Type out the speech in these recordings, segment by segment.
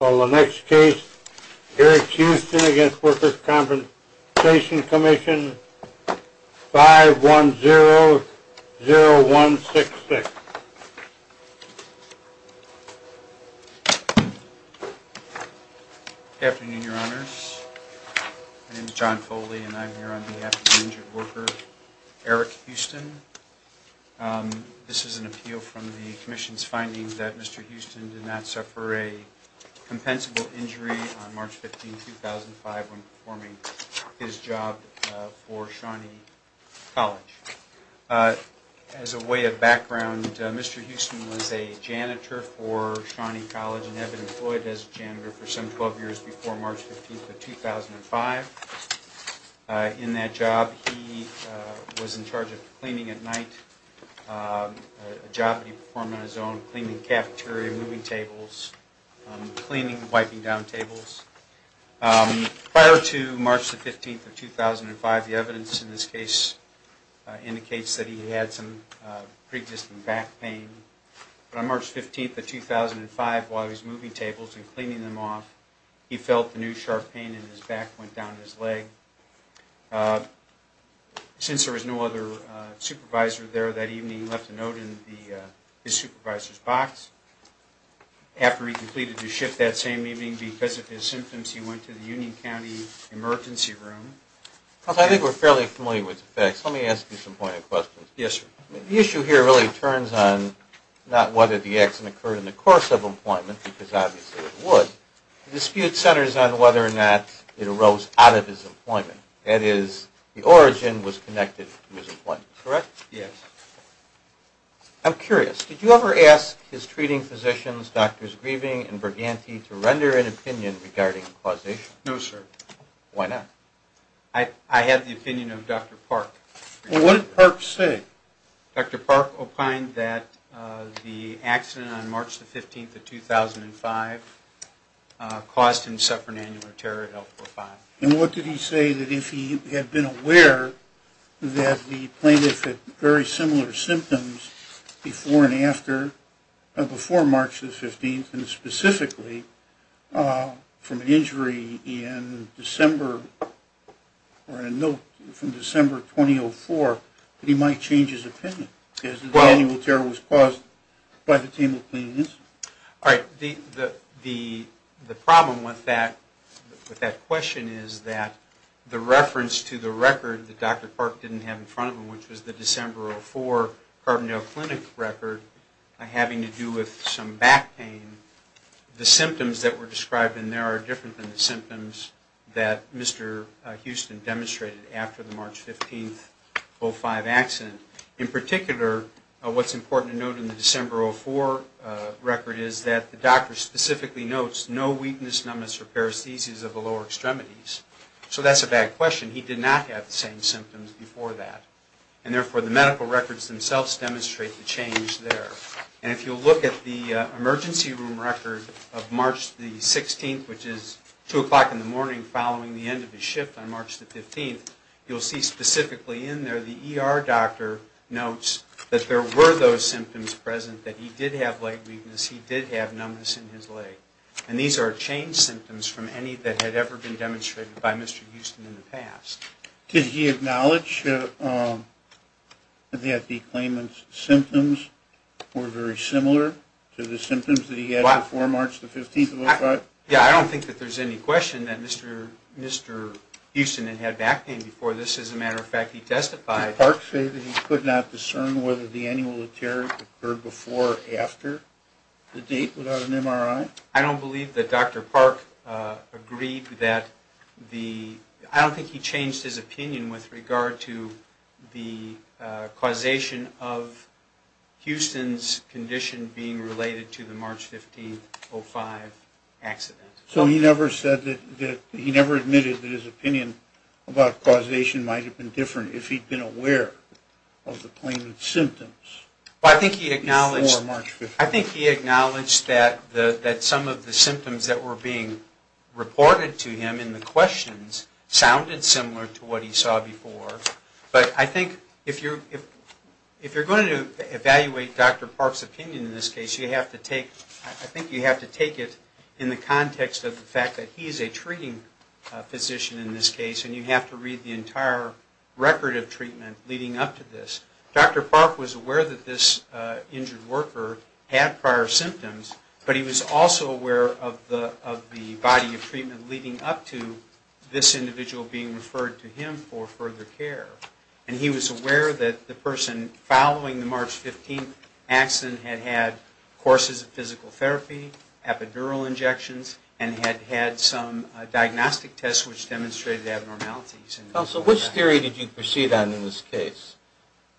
For the next case, Eric Houston against Workers' Compensation Commission 5100166. Good afternoon, Your Honors. My name is John Foley, and I'm here on behalf of the injured worker Eric Houston. This is an appeal from the Commission's findings that Mr. Houston did not suffer a compensable injury on March 15, 2005 when performing his job for Shawnee College. As a way of background, Mr. Houston was a janitor for Shawnee College and had been employed as a janitor for some 12 years before March 15, 2005. In that job, he was in charge of cleaning at night, a job that he performed on his own, cleaning the cafeteria, moving tables, cleaning and wiping down tables. Prior to March 15, 2005, the evidence in this case indicates that he had some pre-existing back pain. On March 15, 2005, while he was moving tables and cleaning them off, he felt a new sharp pain in his back and went down his leg. Since there was no other supervisor there that evening, he left a note in his supervisor's box. After he completed his shift that same evening, because of his symptoms, he went to the Union County Emergency Room. I think we're fairly familiar with the facts. Let me ask you some pointed questions. Yes, sir. The issue here really turns on not whether the accident occurred in the course of employment, because obviously it would. The dispute centers on whether or not it arose out of his employment. That is, the origin was connected to his employment, correct? Yes. I'm curious. Did you ever ask his treating physicians, Doctors Grieving and Burganti, to render an opinion regarding causation? No, sir. Why not? I had the opinion of Dr. Park. What did Park say? Dr. Park opined that the accident on March 15, 2005, caused him to suffer an annual terror at L4-5. And what did he say that if he had been aware that the plaintiff had very similar symptoms before and after, before March 15, and specifically from an injury in December, or a note from December 2004, that he might change his opinion? Because his annual terror was caused by the table cleaning incident. All right. The problem with that question is that the reference to the record that Dr. Park didn't have in front of him, which was the December 2004 Carbondale Clinic record, having to do with some back pain, the symptoms that were described in there are different than the symptoms that Mr. Houston demonstrated after the March 15, 2005 accident. In particular, what's important to note in the December 2004 record is that the doctor specifically notes no weakness, numbness, or paresthesias of the lower extremities. So that's a bad question. He did not have the same symptoms before that. And therefore, the medical records themselves demonstrate the change there. And if you'll look at the emergency room record of March 16, which is 2 o'clock in the morning following the end of his shift on March 15, you'll see specifically in there the ER doctor notes that there were those symptoms present, that he did have leg weakness, he did have numbness in his leg. And these are changed symptoms from any that had ever been demonstrated by Mr. Houston in the past. Did he acknowledge that the claimant's symptoms were very similar to the symptoms that he had before March 15, 2005? Yeah, I don't think that there's any question that Mr. Houston had had back pain before this. As a matter of fact, he testified. Did Park say that he could not discern whether the annulatory occurred before or after the date without an MRI? I don't believe that Dr. Park agreed that the – I don't think he changed his opinion with regard to the causation of Houston's condition being related to the March 15, 2005 accident. So he never admitted that his opinion about causation might have been different if he'd been aware of the claimant's symptoms before March 15? I think he acknowledged that some of the symptoms that were being reported to him in the questions sounded similar to what he saw before. But I think if you're going to evaluate Dr. Park's opinion in this case, you have to take – I think you have to take it in the context of the fact that he is a treating physician in this case, and you have to read the entire record of treatment leading up to this. Dr. Park was aware that this injured worker had prior symptoms, but he was also aware of the body of treatment leading up to this individual being referred to him for further care. And he was aware that the person following the March 15 accident had had courses of physical therapy, epidural injections, and had had some diagnostic tests which demonstrated abnormalities. Counsel, which theory did you proceed on in this case?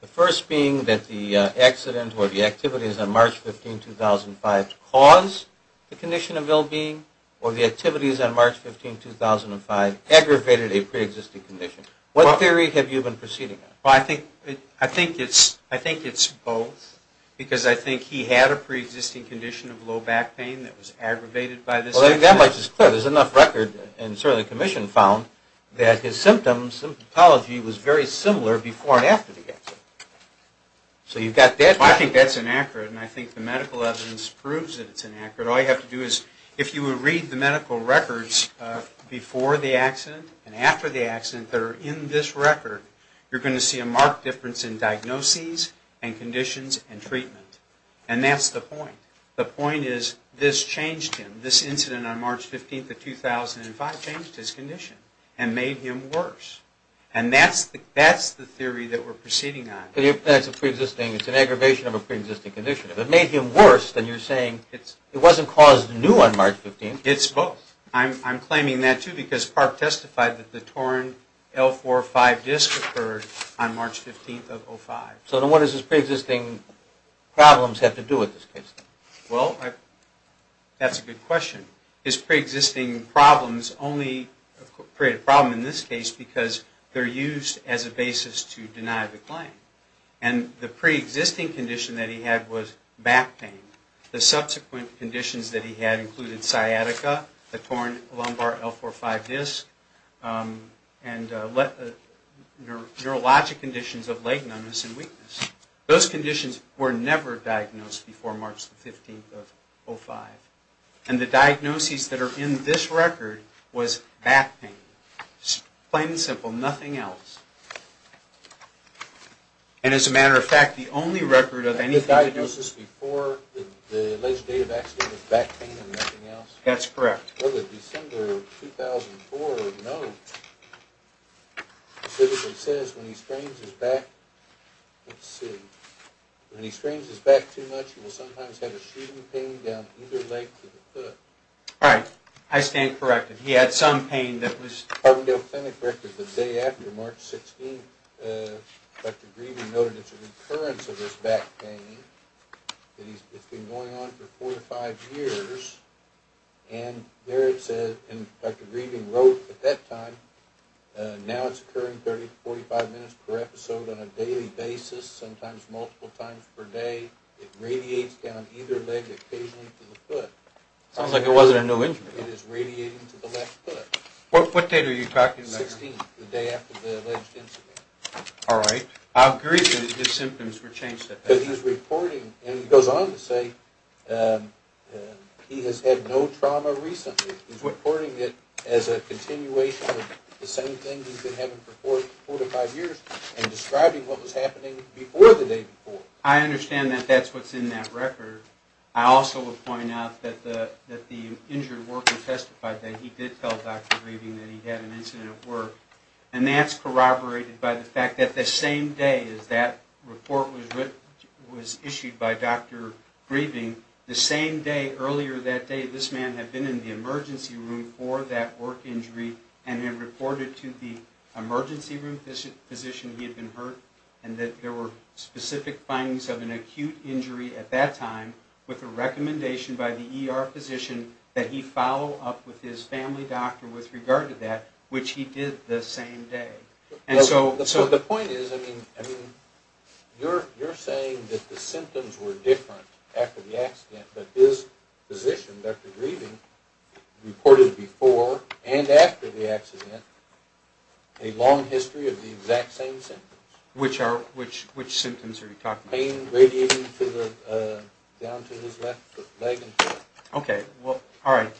The first being that the accident or the activities on March 15, 2005 caused the condition of ill-being, or the activities on March 15, 2005 aggravated a preexisting condition. What theory have you been proceeding on? Well, I think it's both, because I think he had a preexisting condition of low back pain that was aggravated by this accident. Well, I think that much is clear. There's enough record, and certainly the commission found, that his symptoms, his pathology was very similar before and after the accident. So you've got that. Well, I think that's inaccurate, and I think the medical evidence proves that it's inaccurate. All you have to do is, if you would read the medical records before the accident and after the accident that are in this record, you're going to see a marked difference in diagnoses and conditions and treatment. And that's the point. The point is, this changed him. This incident on March 15, 2005 changed his condition and made him worse. And that's the theory that we're proceeding on. That's a preexisting, it's an aggravation of a preexisting condition. If it made him worse, then you're saying it wasn't caused new on March 15. It's both. I'm claiming that, too, because PARP testified that the torn L4-5 disc occurred on March 15, 2005. So then what does his preexisting problems have to do with this case? Well, that's a good question. His preexisting problems only create a problem in this case because they're used as a basis to deny the claim. And the preexisting condition that he had was back pain. The subsequent conditions that he had included sciatica, the torn lumbar L4-5 disc, and neurologic conditions of leg numbness and weakness. Those conditions were never diagnosed before March 15, 2005. And the diagnoses that are in this record was back pain. Plain and simple, nothing else. And as a matter of fact, the only record of anything that was... The diagnosis before the alleged day of accident was back pain and nothing else? That's correct. Well, the December 2004 note specifically says when he strains his back... Let's see. When he strains his back too much, he will sometimes have a shooting pain down either leg to the foot. Right. I stand corrected. He had some pain that was... I stand corrected. The day after, March 16, Dr. Grieving noted it's an occurrence of his back pain. It's been going on for four to five years. And there it says, and Dr. Grieving wrote at that time, now it's occurring 30 to 45 minutes per episode on a daily basis, sometimes multiple times per day. It radiates down either leg occasionally to the foot. Sounds like it wasn't a new injury. It is radiating to the left foot. What date are you talking about here? The 16th, the day after the alleged incident. All right. I agree that his symptoms were changed at that time. Because he's reporting, and he goes on to say, he has had no trauma recently. He's reporting it as a continuation of the same thing he's been having for four to five years and describing what was happening before the day before. I understand that that's what's in that record. I also would point out that the injured worker testified that he did tell Dr. Grieving that he had an incident at work. And that's corroborated by the fact that the same day that report was issued by Dr. Grieving, the same day, earlier that day, this man had been in the emergency room for that work injury and had reported to the emergency room physician he had been hurt and that there were specific findings of an acute injury at that time with a recommendation by the ER physician that he follow up with his family doctor with regard to that, which he did the same day. So the point is, I mean, you're saying that the symptoms were different after the accident, but his physician, Dr. Grieving, reported before and after the accident a long history of the exact same symptoms. Which symptoms are you talking about? Pain radiating down to his left leg. Okay. All right.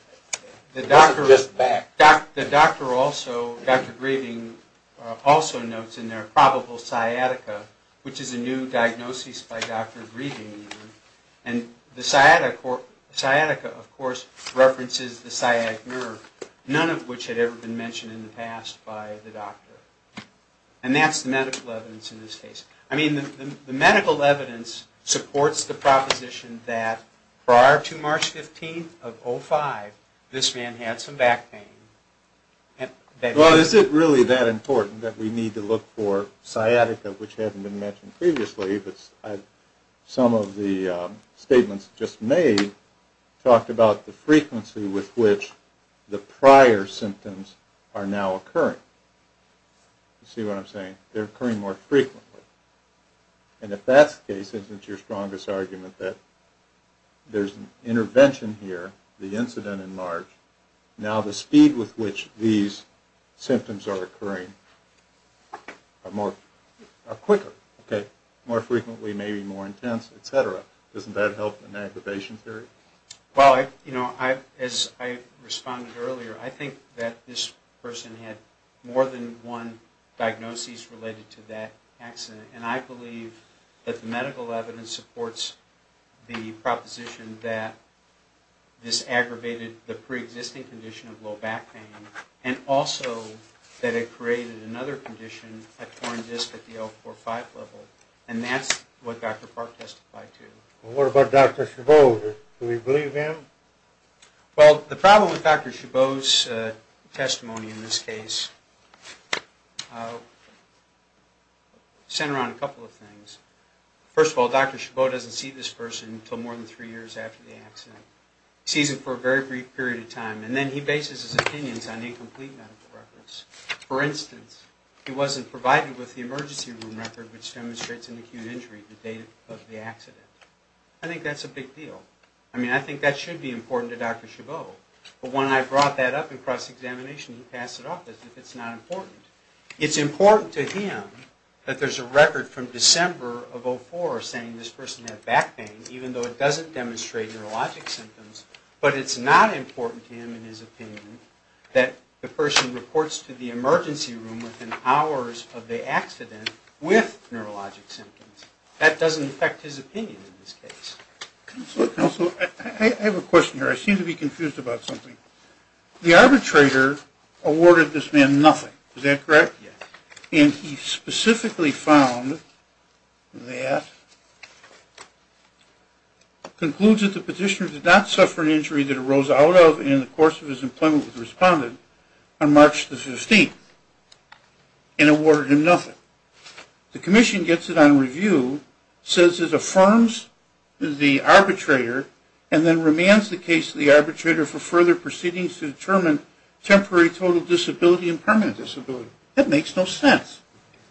Not just back. The doctor also, Dr. Grieving, also notes in there probable sciatica, which is a new diagnosis by Dr. Grieving. And the sciatica, of course, references the sciatic nerve, none of which had ever been mentioned in the past by the doctor. And that's the medical evidence in this case. I mean, the medical evidence supports the proposition that prior to March 15th of 2005, this man had some back pain. Well, is it really that important that we need to look for sciatica, which hadn't been mentioned previously? Some of the statements just made talked about the frequency with which the prior symptoms are now occurring. You see what I'm saying? They're occurring more frequently. And if that's the case, isn't your strongest argument that there's an intervention here, the incident in March, now the speed with which these symptoms are occurring are quicker, okay, more frequently, maybe more intense, et cetera? Doesn't that help in the aggravation theory? Well, you know, as I responded earlier, I think that this person had more than one diagnosis related to that accident. And I believe that the medical evidence supports the proposition that this aggravated the preexisting condition of low back pain and also that it created another condition, a torn disc at the L4-5 level. And that's what Dr. Park testified to. What about Dr. Chabot? Do we believe him? Well, the problem with Dr. Chabot's testimony in this case centered on a couple of things. First of all, Dr. Chabot doesn't see this person until more than three years after the accident. He sees him for a very brief period of time. And then he bases his opinions on incomplete medical records. For instance, he wasn't provided with the emergency room record, which demonstrates an acute injury the date of the accident. I think that's a big deal. I mean, I think that should be important to Dr. Chabot. But when I brought that up in cross-examination, he passed it off as if it's not important. It's important to him that there's a record from December of 2004 saying this person had back pain, even though it doesn't demonstrate neurologic symptoms. But it's not important to him in his opinion that the person reports to the emergency room within hours of the accident with neurologic symptoms. That doesn't affect his opinion in this case. Counselor, I have a question here. I seem to be confused about something. The arbitrator awarded this man nothing. Is that correct? Yes. And he specifically found that, concludes that the petitioner did not suffer an injury that arose out of in the course of his employment with the respondent on March the 15th, and awarded him nothing. The commission gets it on review, says it affirms the arbitrator, and then remands the case to the arbitrator for further proceedings to determine temporary total disability and permanent disability. That makes no sense.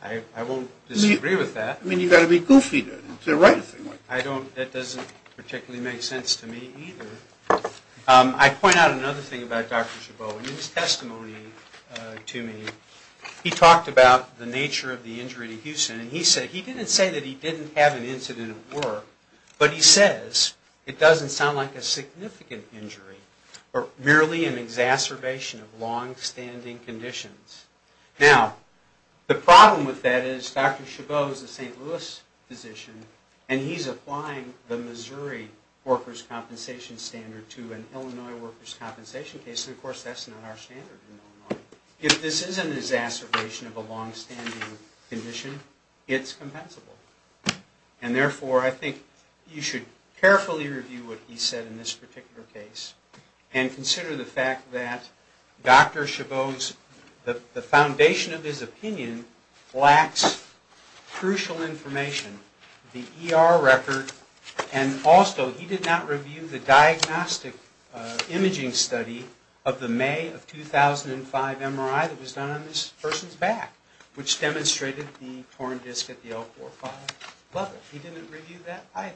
I won't disagree with that. I mean, you've got to be goofy to write a thing like that. That doesn't particularly make sense to me either. I point out another thing about Dr. Chabot. In his testimony to me, he talked about the nature of the injury to Houston. He didn't say that he didn't have an incident at work, but he says it doesn't sound like a significant injury or merely an exacerbation of long-standing conditions. Now, the problem with that is Dr. Chabot is a St. Louis physician, and he's applying the Missouri workers' compensation standard to an Illinois workers' compensation case. Of course, that's not our standard in Illinois. If this is an exacerbation of a long-standing condition, it's compensable. And therefore, I think you should carefully review what he said in this particular case and consider the fact that Dr. Chabot's, the foundation of his opinion, lacks crucial information, the ER record, and also, he did not review the diagnostic imaging study of the May of 2005 MRI that was done on this person's back, which demonstrated the torn disc at the L45 level. He didn't review that either.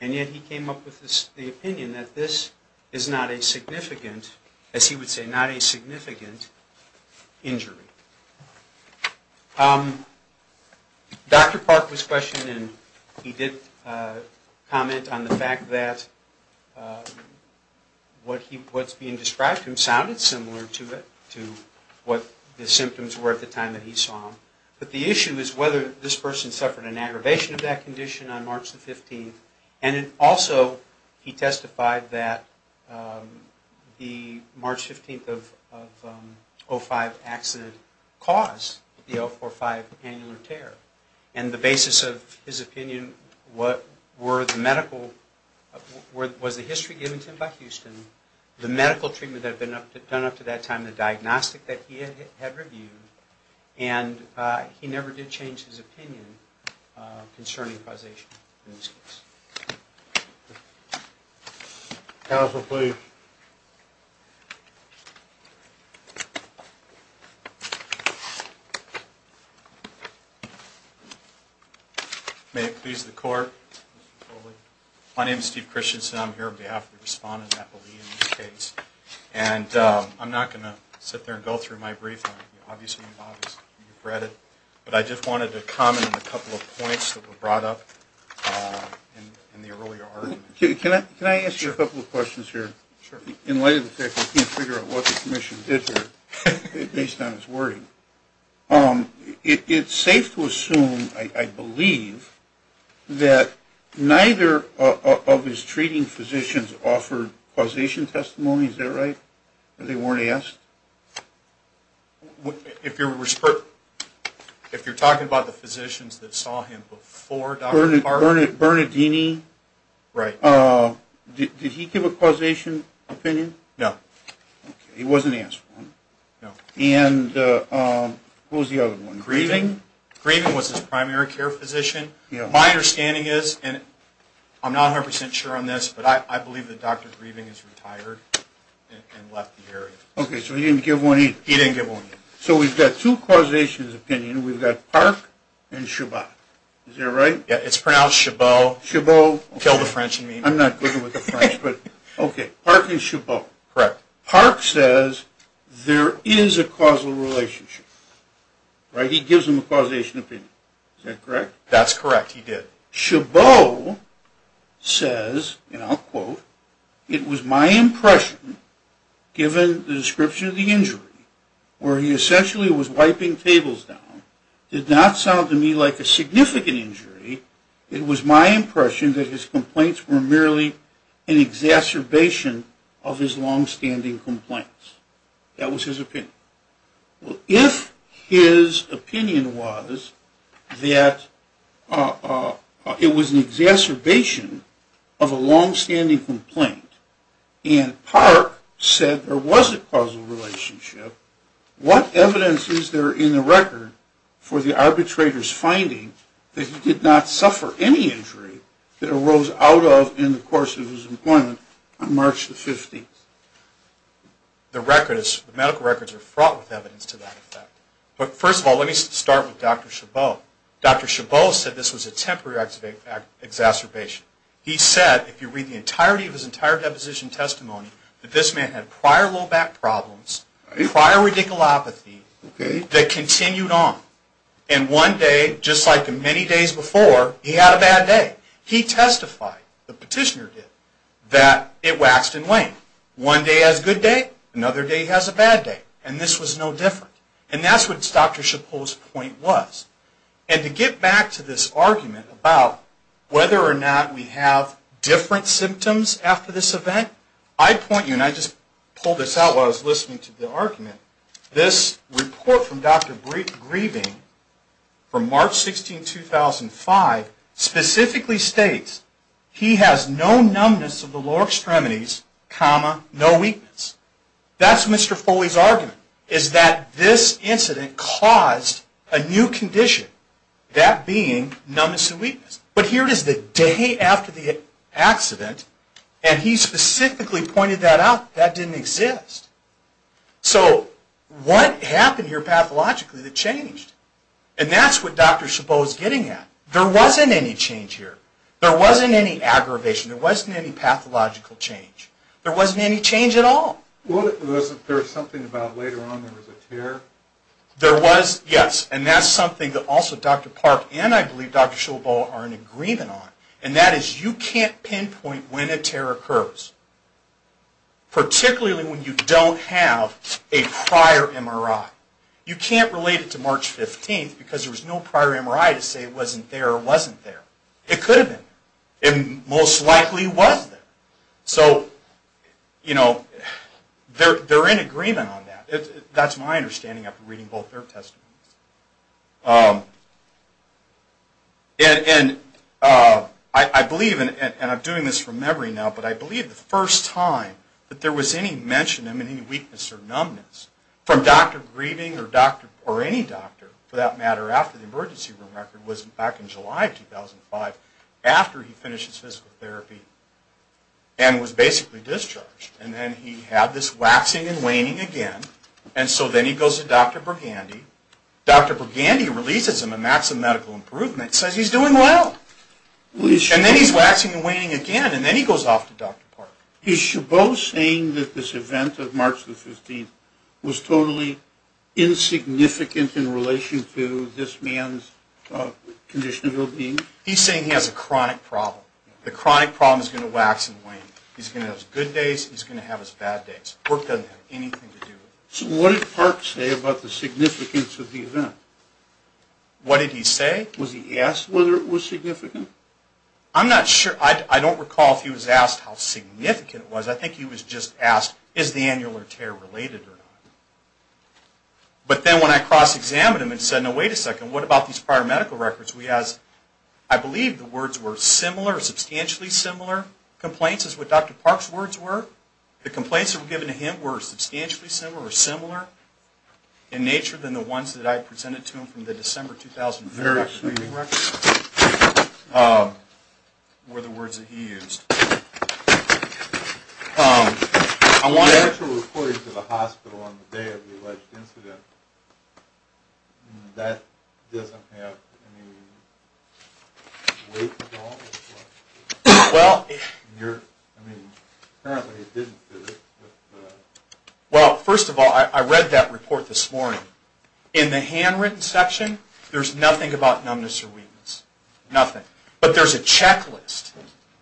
And yet, he came up with the opinion that this is not a significant, as he would say, not a significant injury. Dr. Park was questioned, and he did comment on the fact that what's being described to him sounded similar to what the symptoms were at the time that he saw him. But the issue is whether this person suffered an aggravation of that condition on March the 15th, and also, he testified that the March 15th of 2005 accident didn't cause the L45 annular tear. And the basis of his opinion were the medical, was the history given to him by Houston, the medical treatment that had been done up to that time, the diagnostic that he had reviewed, and he never did change his opinion concerning causation in this case. Counsel, please. May it please the court. My name is Steve Christensen. I'm here on behalf of the respondent, Natalie, in this case. And I'm not going to sit there and go through my brief. Obviously, you've read it. But I just wanted to comment on a couple of points that were brought up in the earlier argument. Can I ask you a couple of questions here? Sure. In light of the fact that I can't figure out what the commission did here, based on his wording, it's safe to assume, I believe, that neither of his treating physicians offered causation testimony. Is that right? Or they weren't asked? If you're talking about the physicians that saw him before Dr. Carter? Bernardini. Right. Did he give a causation opinion? No. Okay. He wasn't asked one. No. And who was the other one? Grieving? Grieving was his primary care physician. My understanding is, and I'm not 100% sure on this, but I believe that Dr. Grieving is retired and left the area. Okay. So he didn't give one either. He didn't give one either. So we've got two causation opinions. We've got Park and Chabot. Is that right? Yeah. It's pronounced Chabot. Chabot. Kill the French in me. I'm not good with the French. Okay. Park and Chabot. Correct. Park says there is a causal relationship. Right? He gives them a causation opinion. Is that correct? That's correct. He did. Chabot says, and I'll quote, It was my impression, given the description of the injury, where he essentially was wiping tables down, did not sound to me like a significant injury. It was my impression that his complaints were merely an exacerbation of his longstanding complaints. That was his opinion. Well, if his opinion was that it was an exacerbation of a longstanding complaint, and Park said there was a causal relationship, what evidence is there in the record for the arbitrator's finding that he did not suffer any injury that arose out of in the course of his employment on March the 15th? The medical records are fraught with evidence to that effect. But first of all, let me start with Dr. Chabot. Dr. Chabot said this was a temporary exacerbation. He said, if you read the entirety of his entire deposition testimony, that this man had prior low back problems, prior radiculopathy, that continued on. And one day, just like the many days before, he had a bad day. He testified, the petitioner did, that it waxed and waned. One day he has a good day, another day he has a bad day. And this was no different. And that's what Dr. Chabot's point was. And to get back to this argument about whether or not we have different symptoms after this event, I point you, and I just pulled this out while I was listening to the argument, this report from Dr. Grieving from March 16, 2005, specifically states, he has no numbness of the lower extremities, comma, no weakness. That's Mr. Foley's argument, is that this incident caused a new condition, that being numbness and weakness. But here it is the day after the accident, and he specifically pointed that out, that didn't exist. So what happened here pathologically that changed? And that's what Dr. Chabot is getting at. There wasn't any change here. There wasn't any aggravation. There wasn't any pathological change. There wasn't any change at all. Well, wasn't there something about later on there was a tear? There was, yes, and that's something that also Dr. Park and I believe Dr. Chabot are in agreement on, and that is you can't pinpoint when a tear occurs, particularly when you don't have a prior MRI. You can't relate it to March 15 because there was no prior MRI to say it wasn't there or wasn't there. It could have been there. It most likely was there. So, you know, they're in agreement on that. That's my understanding after reading both their testimonies. And I believe, and I'm doing this from memory now, but I believe the first time that there was any mention of any weakness or numbness from Dr. Grieving or any doctor, for that matter, after the emergency room record was back in July of 2005 after he finished his physical therapy and was basically discharged. And then he had this waxing and waning again, and so then he goes to Dr. Burgandy. Dr. Burgandy releases him, and that's a medical improvement, says he's doing well. And then he's waxing and waning again, and then he goes off to Dr. Park. Is Chabot saying that this event of March the 15th was totally insignificant in relation to this man's condition of well-being? He's saying he has a chronic problem. The chronic problem is going to wax and wane. He's going to have his good days. He's going to have his bad days. Work doesn't have anything to do with it. So what did Park say about the significance of the event? What did he say? Was he asked whether it was significant? I'm not sure. I don't recall if he was asked how significant it was. I think he was just asked, is the annular tear related or not? But then when I cross-examined him and said, no, wait a second. What about these prior medical records? I believe the words were similar or substantially similar. Complaints is what Dr. Park's words were. The complaints that were given to him were substantially similar or The actual report into the hospital on the day of the alleged incident, that doesn't have any weight at all? Well, first of all, I read that report this morning. In the handwritten section, there's nothing about numbness or weakness. Nothing. But there's a checklist.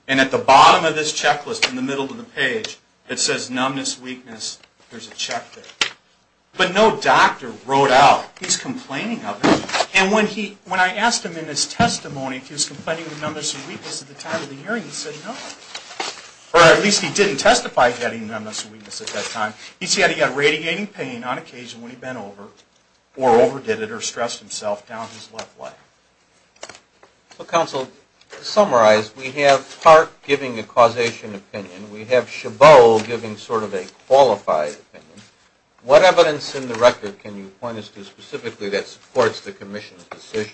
And at the bottom of this checklist, in the middle of the page, it says numbness, weakness. There's a check there. But no doctor wrote out. He's complaining of it. And when I asked him in his testimony if he was complaining of numbness or weakness at the time of the hearing, he said no. Or at least he didn't testify of getting numbness or weakness at that time. He said he got radiating pain on occasion when he bent over or overdid it or stressed himself down his left leg. Well, counsel, to summarize, we have Park giving a causation opinion. We have Chabot giving sort of a qualified opinion. What evidence in the record can you point us to specifically that supports the commission's decision?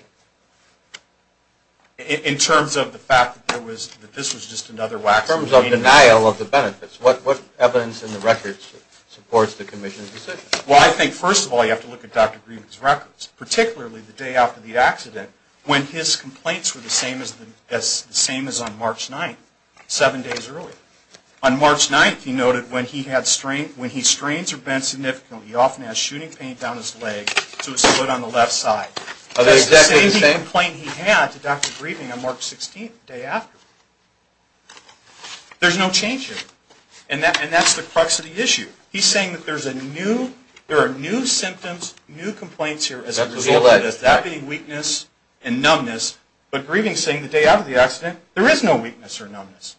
In terms of the fact that this was just another waxing and waning. In terms of denial of the benefits. What evidence in the record supports the commission's decision? Well, I think, first of all, you have to look at Dr. Green's records. Particularly the day after the accident when his complaints were the same as on March 9th, seven days early. On March 9th, he noted when he strains are bent significantly, he often has shooting pain down his leg to his foot on the left side. That's the same complaint he had to Dr. Green on March 16th, the day after. There's no change here. And that's the crux of the issue. He's saying that there are new symptoms, new complaints here as a result. Does that mean weakness and numbness? But Green is saying the day after the accident, there is no weakness or numbness.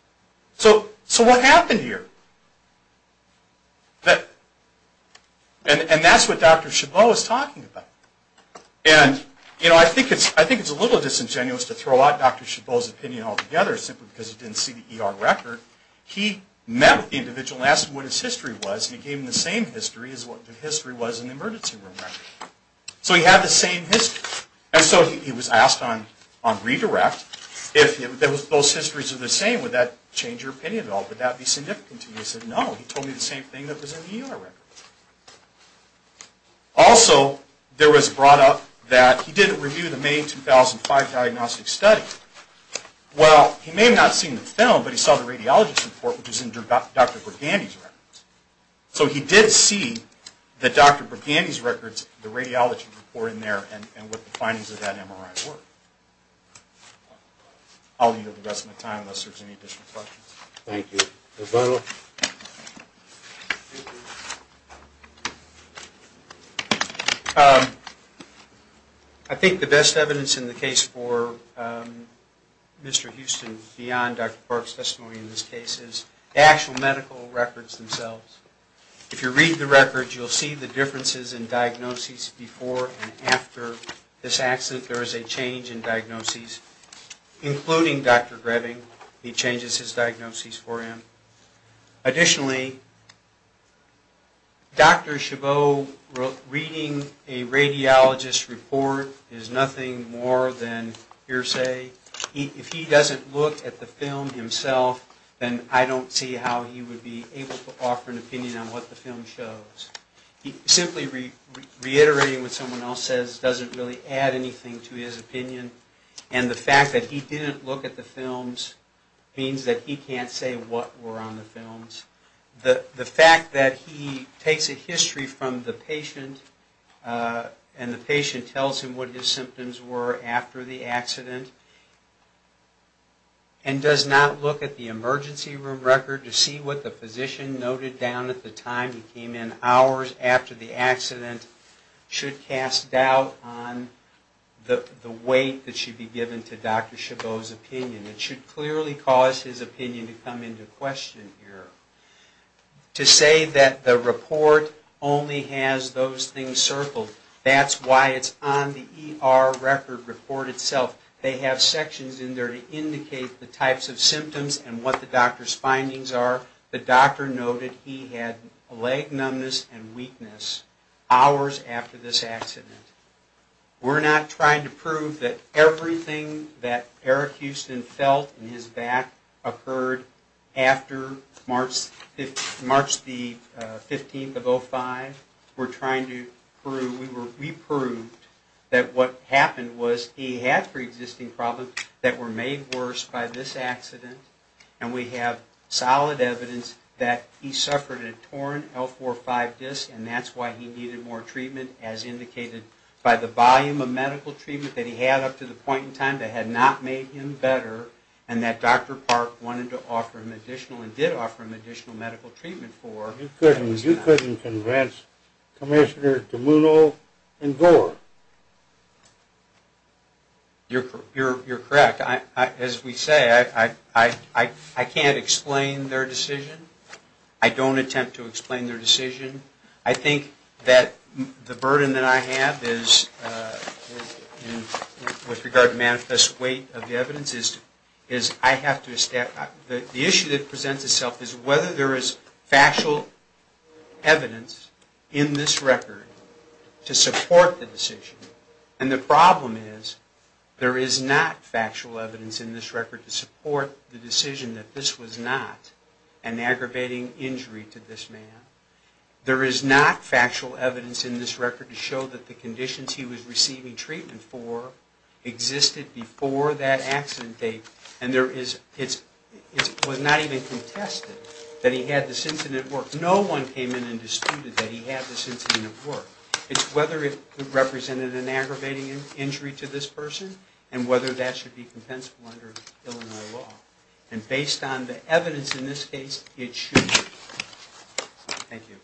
So what happened here? And that's what Dr. Chabot is talking about. And I think it's a little disingenuous to throw out Dr. Chabot's opinion altogether simply because he didn't see the ER record. He met with the individual and asked him what his history was and he gave him the same history as what the history was in the emergency room record. So he had the same history. And so he was asked on redirect, if those histories are the same, would that change your opinion at all? Would that be significant to you? He said, no, he told me the same thing that was in the ER record. Also, there was brought up that he did a review of the May 2005 diagnostic study. Well, he may have not seen the film, but he saw the radiologist's report, which was in Dr. Burgandy's records. So he did see that Dr. Burgandy's records, the radiology report in there, and what the findings of that MRI were. I'll leave you with the rest of my time unless there's any additional questions. Thank you. Dr. Butler? I think the best evidence in the case for Mr. Houston, beyond Dr. Park's testimony in this case, is the actual medical records themselves. If you read the records, you'll see the differences in diagnoses before and after this accident. There is a change in diagnoses, including Dr. Greving. He changes his diagnoses for him. Additionally, Dr. Chabot reading a radiologist report is nothing more than hearsay. If he doesn't look at the film himself, then I don't see how he would be able to offer an opinion on what the film shows. Simply reiterating what someone else says doesn't really add anything to his opinion. The fact that he didn't look at the films means that he can't say what were on the films. The fact that he takes a history from the patient and the patient tells him what his symptoms were after the accident and does not look at the emergency room record to see what the physician noted down at the time he came in should cast doubt on the weight that should be given to Dr. Chabot's opinion. It should clearly cause his opinion to come into question here. To say that the report only has those things circled, that's why it's on the ER record report itself. They have sections in there to indicate the types of symptoms and what the doctor's findings are. The doctor noted he had leg numbness and weakness hours after this accident. We're not trying to prove that everything that Eric Houston felt in his back occurred after March the 15th of 05. We're trying to prove, we proved that what happened was he had three existing problems that were made worse by this accident and we have solid evidence that he suffered a torn L4-5 disc and that's why he needed more treatment as indicated by the volume of medical treatment that he had up to the point in time that had not made him better and that Dr. Park wanted to offer him additional and did offer him additional medical treatment for. You couldn't convince Commissioner DiMuno and Gore. You're correct. As we say, I can't explain their decision. I don't attempt to explain their decision. I think that the burden that I have is, with regard to manifest weight of the evidence, is I have to, the issue that presents itself is whether there is factual evidence in this record to support the decision and the problem is there is not factual evidence in this record to support the decision that this was not an aggravating injury to this man. There is not factual evidence in this record to show that the conditions he was receiving treatment for existed before that accident date and it was not even contested that he had this incident work. No one came in and disputed that he had this incident work. It's whether it represented an aggravating injury to this person and whether that should be compensable under Illinois law. And based on the evidence in this case, it should be. Thank you.